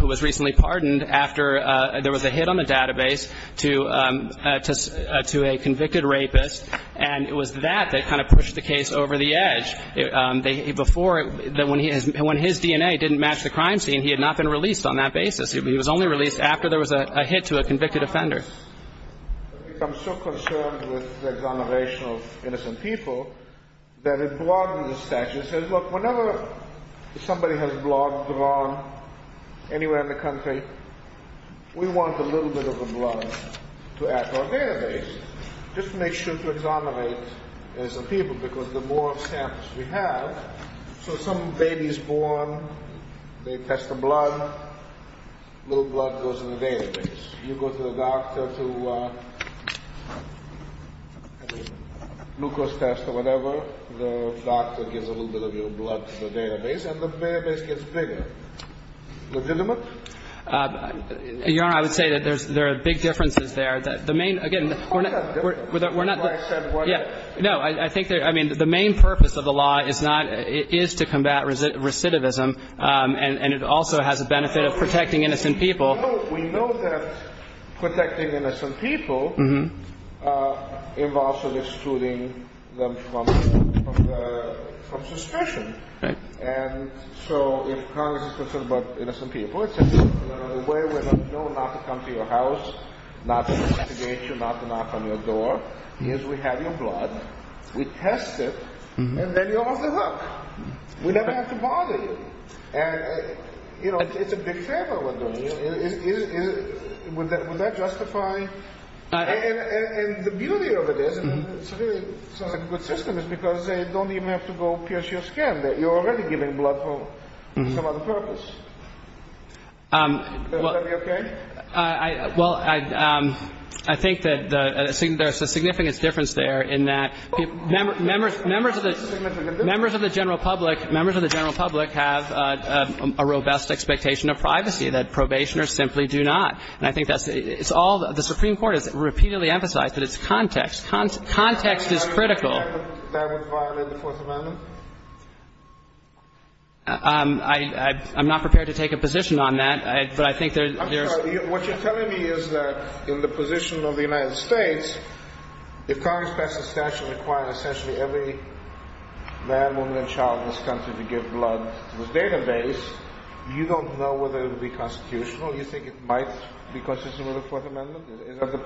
who was recently pardoned after there was a hit on the database to a convicted rapist, and it was that that kind of pushed the case over the edge. Before, when his DNA didn't match the crime scene, he had not been released on that basis. He was only released after there was a hit to a convicted offender. I'm so concerned with the exoneration of innocent people that it broadens the statute. It says, look, whenever somebody has blood drawn anywhere in the country, we want a little bit of the blood to add to our database. Just make sure to exonerate innocent people because the more samples we have, so some baby is born, they test the blood, a little blood goes in the database. You go to the doctor to have a glucose test or whatever, the doctor gives a little bit of your blood to the database, and the database gets bigger. Legitimate? Your Honor, I would say that there are big differences there. The main – again, we're not – What's that difference? That's why I said – No, I think – I mean, the main purpose of the law is not – is to combat recidivism, and it also has a benefit of protecting innocent people. We know that protecting innocent people involves excluding them from suspicion. And so if Congress is concerned about innocent people, it says the only way we're going to know not to come to your house, not to investigate you, not to knock on your door, is we have your blood, we test it, and then you're off the hook. We never have to bother you. And, you know, it's a big favor we're doing you. Would that justify – and the beauty of it is, and it's a really good system, is because they don't even have to go pierce your skin. You're already giving blood for some other purpose. Would that be okay? Well, I think that there's a significant difference there in that members of the general public – I think there's a significant difference there in that members of the general public have a robust expectation of privacy, that probationers simply do not. And I think that's – it's all – the Supreme Court has repeatedly emphasized that it's context. Context is critical. Would that violate the Fourth Amendment? I'm not prepared to take a position on that, but I think there's – I'm sorry. What you're telling me is that in the position of the United States, if Congress passed a statute requiring essentially every man, woman, and child in this country to give blood to its database, you don't know whether it would be constitutional? Do you think it might be constitutional with the Fourth Amendment?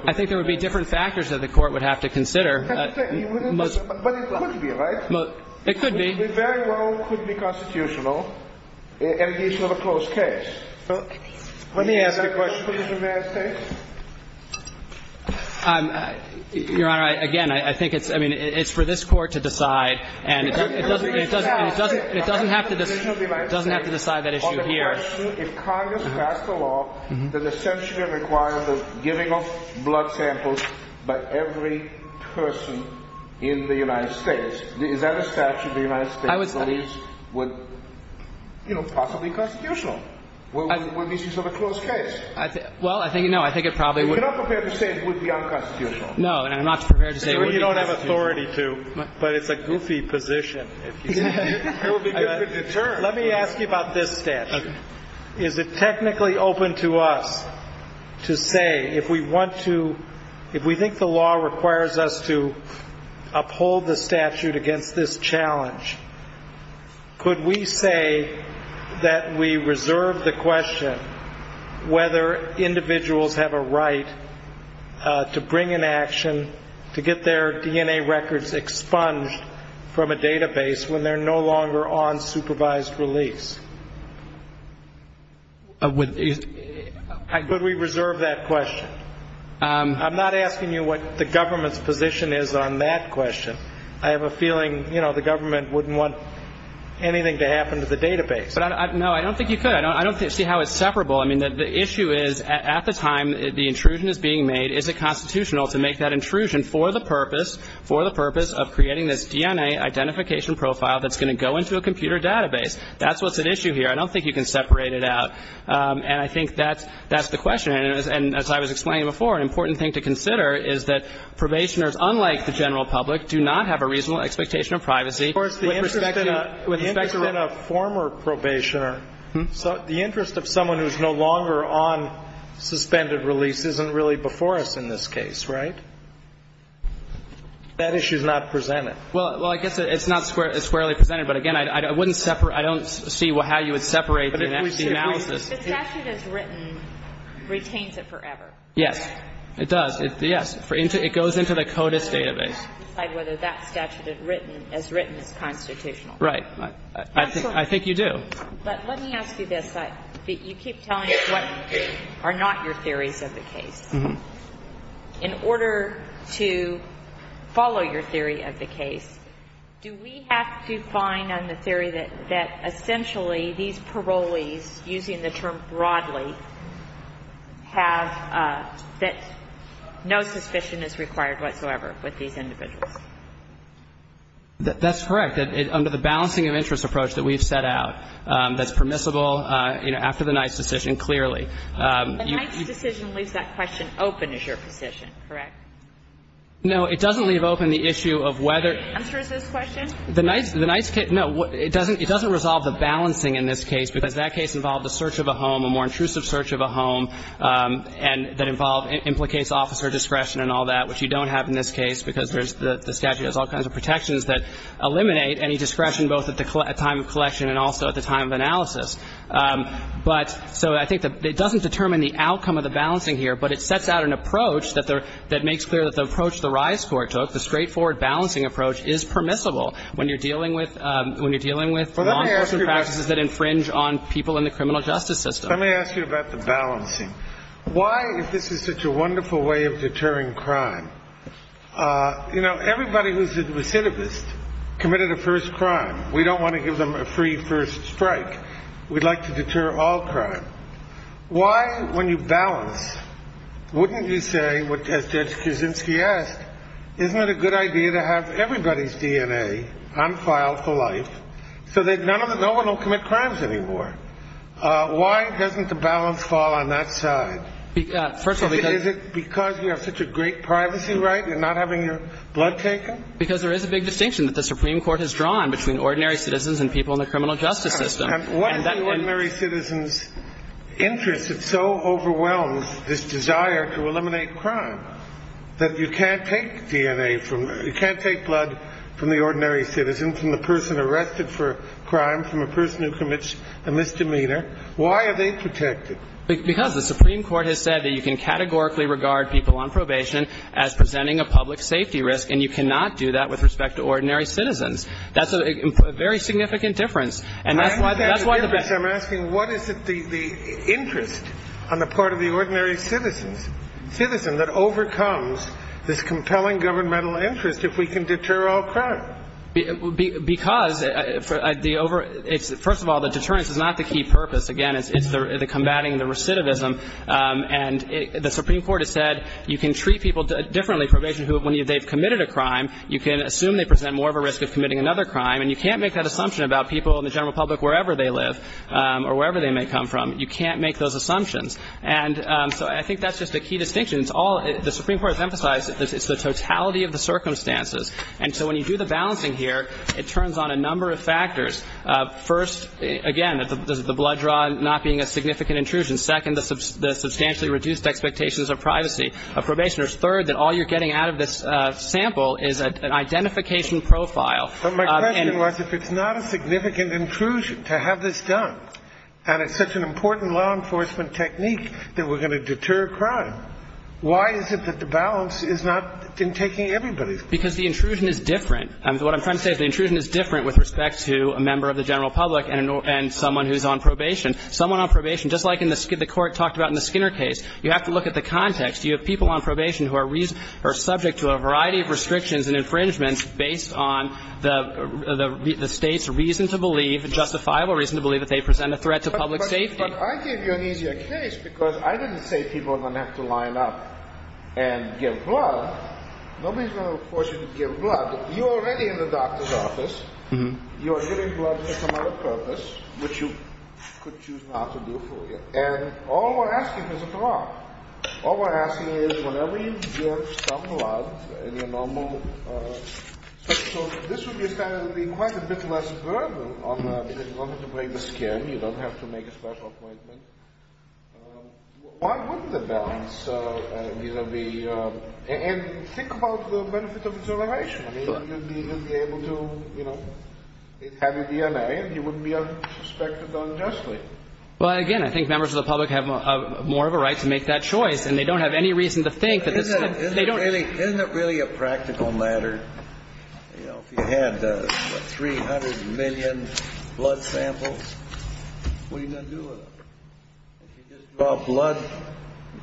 I think there would be different factors that the Court would have to consider. But it could be, right? It could be. It very well could be constitutional, and it gives you a closed case. Let me ask a question. Your Honor, again, I think it's – I mean, it's for this Court to decide, and it doesn't have to decide that issue here. If Congress passed a law that essentially required the giving of blood samples by every person in the United States, is that a statute the United States police would – would this be sort of a closed case? Well, I think no. I think it probably would. You're not prepared to say it would be unconstitutional? No, and I'm not prepared to say it would be constitutional. You don't have authority to, but it's a goofy position. It would be good to deter. Let me ask you about this statute. Okay. Is it technically open to us to say if we want to – if we think the law requires us to uphold the statute against this challenge, could we say that we reserve the question whether individuals have a right to bring an action to get their DNA records expunged from a database when they're no longer on supervised release? Could we reserve that question? I'm not asking you what the government's position is on that question. I have a feeling, you know, the government wouldn't want anything to happen to the database. No, I don't think you could. I don't see how it's separable. I mean, the issue is at the time the intrusion is being made, is it constitutional to make that intrusion for the purpose – for the purpose of creating this DNA identification profile that's going to go into a computer database? That's what's at issue here. I don't think you can separate it out. And I think that's the question. And as I was explaining before, an important thing to consider is that probationers, unlike the general public, do not have a reasonable expectation of privacy. Of course, the interest in a former probationer, the interest of someone who's no longer on suspended release isn't really before us in this case, right? That issue's not presented. Well, I guess it's not squarely presented. But again, I wouldn't separate – I don't see how you would separate the analysis. The statute as written retains it forever. Yes. It does. Yes. It goes into the CODIS database. You have to decide whether that statute as written is constitutional. Right. I think you do. But let me ask you this. You keep telling us what are not your theories of the case. Mm-hmm. In order to follow your theory of the case, do we have to find on the theory that essentially these parolees, using the term broadly, have that no suspicion is required whatsoever with these individuals? That's correct. Under the balancing of interest approach that we've set out, that's permissible, you know, after the Knight's decision, clearly. The Knight's decision leaves that question open is your position, correct? No, it doesn't leave open the issue of whether the Knight's case – no, it doesn't resolve the balancing in this case because that case involved the search of a home, a more intrusive search of a home, and that involved – implicates officer discretion and all that, which you don't have in this case because there's – the statute has all kinds of protections that eliminate any discretion both at the time of collection and also at the time of analysis. But – so I think that it doesn't determine the outcome of the balancing here, but it sets out an approach that makes clear that the approach the rise court took, the straightforward balancing approach, is permissible when you're dealing with law enforcement practices that infringe on people in the criminal justice system. Let me ask you about the balancing. Why, if this is such a wonderful way of deterring crime – you know, everybody who's a recidivist committed a first crime. We don't want to give them a free first strike. We'd like to deter all crime. Why, when you balance, wouldn't you say, as Judge Kuczynski asked, isn't it a good idea to have everybody's DNA unfiled for life so that none of the – no one will commit crimes anymore? Why doesn't the balance fall on that side? First of all, because – Is it because you have such a great privacy right and you're not having your blood taken? Because there is a big distinction that the Supreme Court has drawn between ordinary citizens and people in the criminal justice system. And what is an ordinary citizen's interest that so overwhelms this desire to eliminate crime? That you can't take DNA from – you can't take blood from the ordinary citizen, from the person arrested for a crime, from a person who commits a misdemeanor. Why are they protected? Because the Supreme Court has said that you can categorically regard people on probation as presenting a public safety risk, and you cannot do that with respect to ordinary citizens. That's a very significant difference. And that's why – I'm asking, what is the interest on the part of the ordinary citizen that overcomes this compelling governmental interest if we can deter all crime? Because the – first of all, the deterrence is not the key purpose. Again, it's the combating the recidivism. And the Supreme Court has said you can treat people differently on probation when they've committed a crime. You can assume they present more of a risk of committing another crime. And you can't make that assumption about people in the general public wherever they live or wherever they may come from. You can't make those assumptions. And so I think that's just a key distinction. It's all – the Supreme Court has emphasized it's the totality of the circumstances. And so when you do the balancing here, it turns on a number of factors. First, again, the blood draw not being a significant intrusion. Second, the substantially reduced expectations of privacy of probationers. Third, that all you're getting out of this sample is an identification profile. But my question was, if it's not a significant intrusion to have this done, and it's such an important law enforcement technique that we're going to deter crime, why is it that the balance is not in taking everybody's place? Because the intrusion is different. And what I'm trying to say is the intrusion is different with respect to a member of the general public and someone who's on probation. Someone on probation, just like the Court talked about in the Skinner case, you have to look at the context. You have people on probation who are subject to a variety of restrictions and infringements based on the State's reason to believe, justifiable reason to believe that they present a threat to public safety. But I gave you an easier case because I didn't say people are going to have to line up and give blood. Nobody's going to force you to give blood. You're already in the doctor's office. You're giving blood for some other purpose, which you could choose not to do for you. And all we're asking is a draw. All we're asking is whenever you give some blood in your normal, so this would be quite a bit less burden because you don't have to break the skin. You don't have to make a special appointment. Why wouldn't the balance be, and think about the benefit of acceleration. I mean, you'd be able to, you know, have a DNA and you wouldn't be suspected unjustly. Well, again, I think members of the public have more of a right to make that choice. And they don't have any reason to think that they don't. Isn't it really a practical matter? You know, if you had 300 million blood samples, what are you going to do with them? If you just draw blood,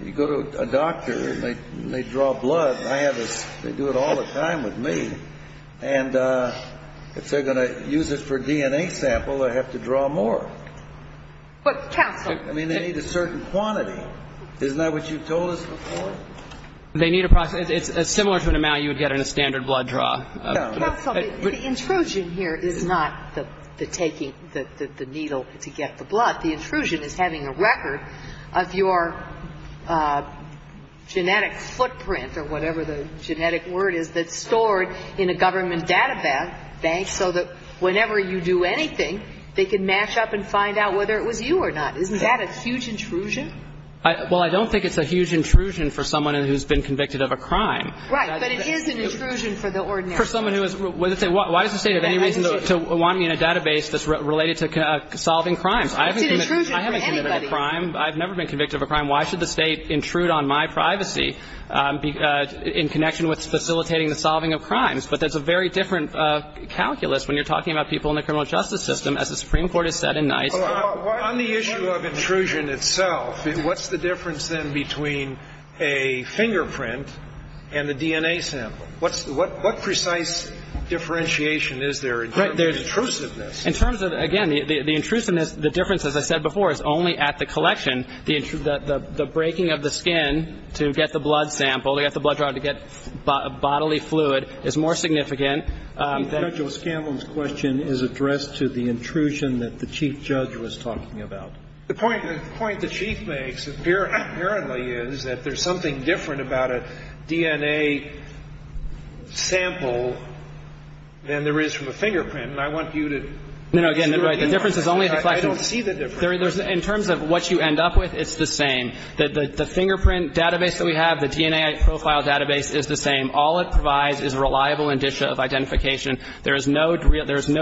you go to a doctor and they draw blood. I have this. They do it all the time with me. And if they're going to use it for DNA sample, I have to draw more. But counsel. I mean, they need a certain quantity. Isn't that what you told us before? They need a process. It's similar to an amount you would get in a standard blood draw. Counsel, the intrusion here is not the taking the needle to get the blood. The intrusion is having a record of your genetic footprint or whatever the genetic word is that's stored in a government database so that whenever you do anything, they can mash up and find out whether it was you or not. Isn't that a huge intrusion? Well, I don't think it's a huge intrusion for someone who's been convicted of a crime. Right. But it is an intrusion for the ordinary person. Why does the State have any reason to want me in a database that's related to solving crimes? It's an intrusion for anybody. I haven't committed a crime. I've never been convicted of a crime. Why should the State intrude on my privacy in connection with facilitating the solving of crimes? But that's a very different calculus when you're talking about people in the criminal justice system, as the Supreme Court has said in Knight. On the issue of intrusion itself, what's the difference then between a fingerprint and the DNA sample? What precise differentiation is there in terms of intrusiveness? In terms of, again, the intrusiveness, the difference, as I said before, is only at the collection. The breaking of the skin to get the blood sample, to get the blood draw, to get bodily fluid, is more significant. Judge O'Scanlon's question is addressed to the intrusion that the Chief Judge was talking about. The point the Chief makes apparently is that there's something different about a DNA sample than there is from a fingerprint. And I want you to see the difference. No, no, again, the difference is only at the collection. I don't see the difference. In terms of what you end up with, it's the same. The fingerprint database that we have, the DNA profile database is the same. All it provides is reliable indicia of identification. There is no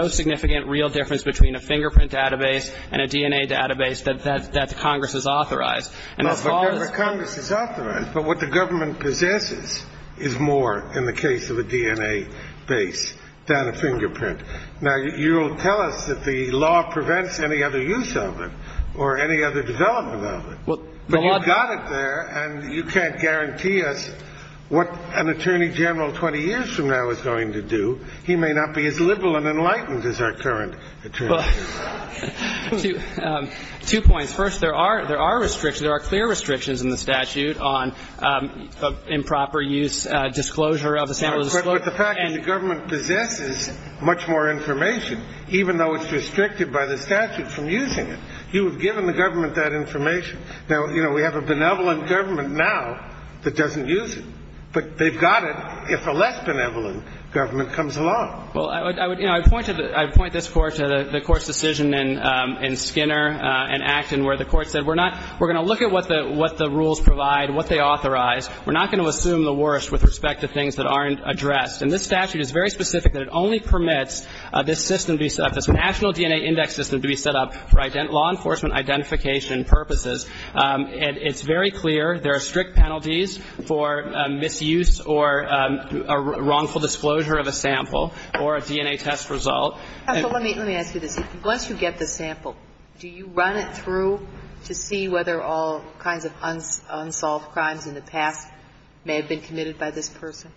significant real difference between a fingerprint database and a DNA database that Congress has authorized. And as far as the ---- But Congress has authorized. But what the government possesses is more, in the case of a DNA base, than a fingerprint. Now, you will tell us that the law prevents any other use of it or any other development of it. But you've got it there, and you can't guarantee us what an Attorney General 20 years from now is going to do. He may not be as liberal and enlightened as our current Attorney General. Two points. First, there are restrictions. There are clear restrictions in the statute on improper use, disclosure of a sample. But the fact is the government possesses much more information, even though it's restricted by the statute from using it. You have given the government that information. Now, you know, we have a benevolent government now that doesn't use it. But they've got it if a less benevolent government comes along. Well, I would ---- you know, I'd point to the ---- I'd point this Court to the Court's decision in Skinner and Acton where the Court said we're not ---- we're going to look at what the rules provide, what they authorize. We're not going to assume the worst with respect to things that aren't addressed. And this statute is very specific that it only permits this system to be set up, this national DNA index system to be set up for law enforcement identification purposes. And it's very clear there are strict penalties for misuse or wrongful disclosure of a sample or a DNA test result. Let me ask you this. Once you get the sample, do you run it through to see whether all kinds of unsolved crimes in the past may have been committed by this person?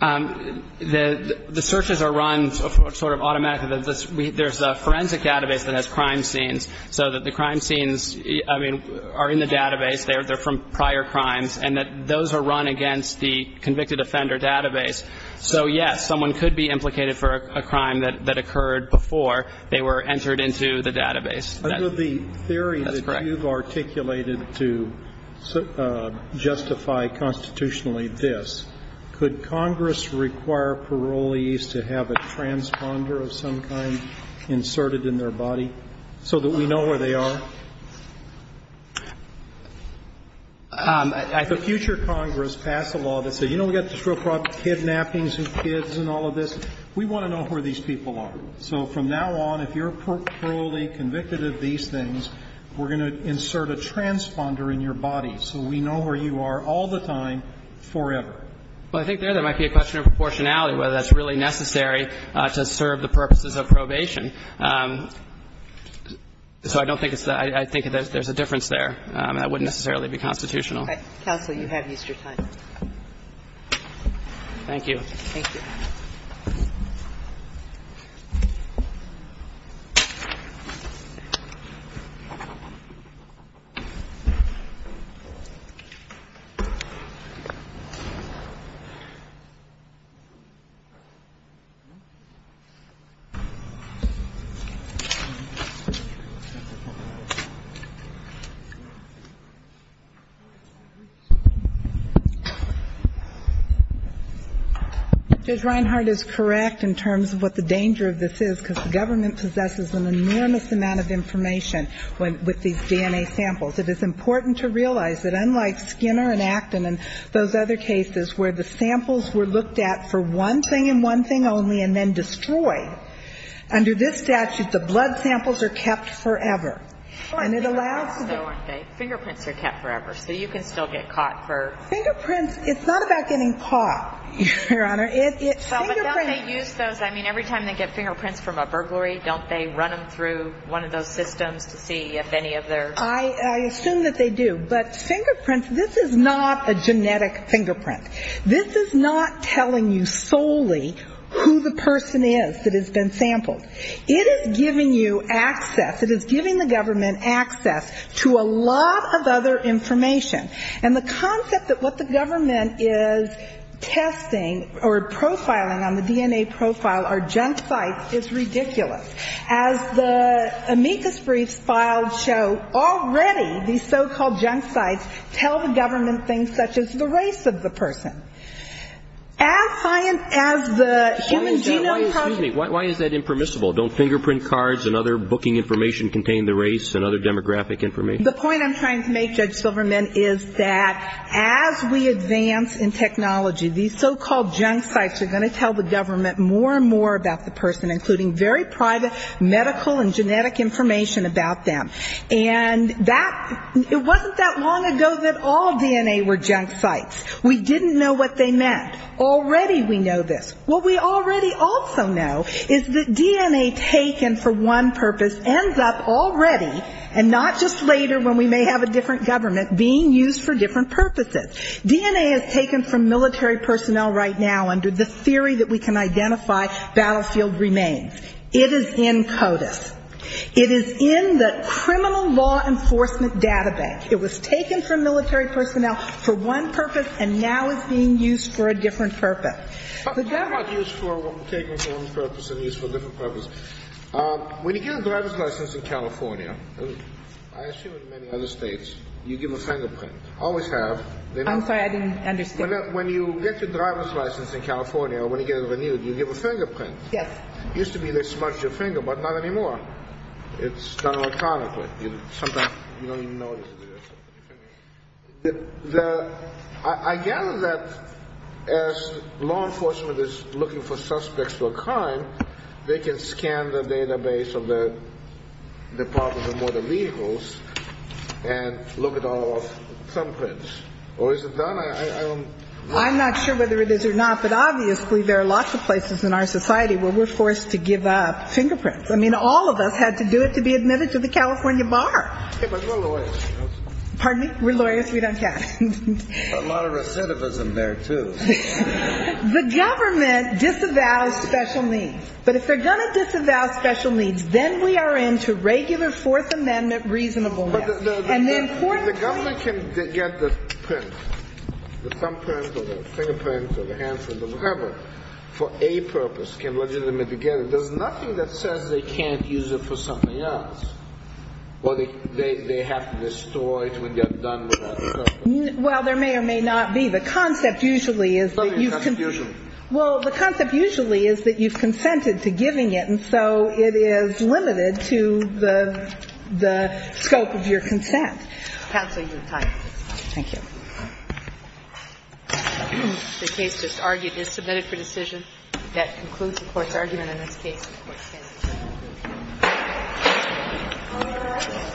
The searches are run sort of automatically. There's a forensic database that has crime scenes. So that the crime scenes, I mean, are in the database. They're from prior crimes. And those are run against the convicted offender database. So, yes, someone could be implicated for a crime that occurred before they were entered into the database. That's correct. Now, you've articulated to justify constitutionally this. Could Congress require parolees to have a transponder of some kind inserted in their body so that we know where they are? The future Congress passed a law that said, you know, we've got this real problem, kidnappings of kids and all of this. We want to know where these people are. So from now on, if you're parolee convicted of these things, we're going to insert a transponder in your body so we know where you are all the time forever. Well, I think there might be a question of proportionality, whether that's really necessary to serve the purposes of probation. So I don't think it's that. I think there's a difference there. That wouldn't necessarily be constitutional. Counsel, you have used your time. Thank you. Thank you. Thank you. I think Mr. Reinhart is correct in terms of what the danger of this is, because the government possesses an enormous amount of information with these DNA samples. It is important to realize that unlike Skinner and Acton and those other cases where the samples were looked at for one thing and one thing only and then destroyed, under this statute the blood samples are kept forever. And it allows the ---- Fingerprints are kept forever. So you can still get caught for ---- Fingerprints, it's not about getting caught, Your Honor. It's fingerprints. Well, but don't they use those? I mean, every time they get fingerprints from a burglary, don't they run them through one of those systems to see if any of their ---- I assume that they do. But fingerprints, this is not a genetic fingerprint. This is not telling you solely who the person is that has been sampled. It is giving you access. It is giving the government access to a lot of other information. And the concept that what the government is testing or profiling on the DNA profile are junk sites is ridiculous. As the amicus briefs filed show, already these so-called junk sites tell the government things such as the race of the person. As high as the human genome ---- Excuse me. Why is that impermissible? Don't fingerprint cards and other booking information contain the race and other demographic information? The point I'm trying to make, Judge Silverman, is that as we advance in technology, these so-called junk sites are going to tell the government more and more about the person, including very private medical and genetic information about them. And that ---- it wasn't that long ago that all DNA were junk sites. We didn't know what they meant. Already we know this. What we already also know is that DNA taken for one purpose ends up already, and not just later when we may have a different government, being used for different purposes. DNA is taken from military personnel right now under the theory that we can identify battlefield remains. It is in CODIS. It is in the criminal law enforcement data bank. It was taken from military personnel for one purpose and now is being used for a different purpose. But they're not used for taking for one purpose and used for different purposes. When you get a driver's license in California, I assume in many other states, you give a fingerprint. I always have. I'm sorry. I didn't understand. When you get your driver's license in California, when you get it renewed, you give a fingerprint. Yes. It used to be they smudged your finger, but not anymore. It's done electronically. Sometimes you don't even know it's there. I gather that as law enforcement is looking for suspects for a crime, they can scan the database of the Department of Motor Vehicles and look at all of the thumbprints. Or is it done? I don't know. I'm not sure whether it is or not, but obviously there are lots of places in our society where we're forced to give up fingerprints. I mean, all of us had to do it to be admitted to the California bar. But we're lawyers. Pardon me? We're lawyers. We don't count. A lot of recidivism there, too. The government disavows special needs. But if they're going to disavow special needs, then we are into regular Fourth Amendment reasonableness. But the government can get the print, the thumbprint or the fingerprint or the handprint or whatever for a purpose, can legitimately get it. There's nothing that says they can't use it for something else. Well, they have to destroy it when they're done with it. Well, there may or may not be. The concept usually is that you've consented to giving it, and so it is limited to the scope of your consent. Counsel, you're tied. Thank you. The case just argued is submitted for decision. That concludes the Court's argument in this case. Any questions? All rise. Thank you.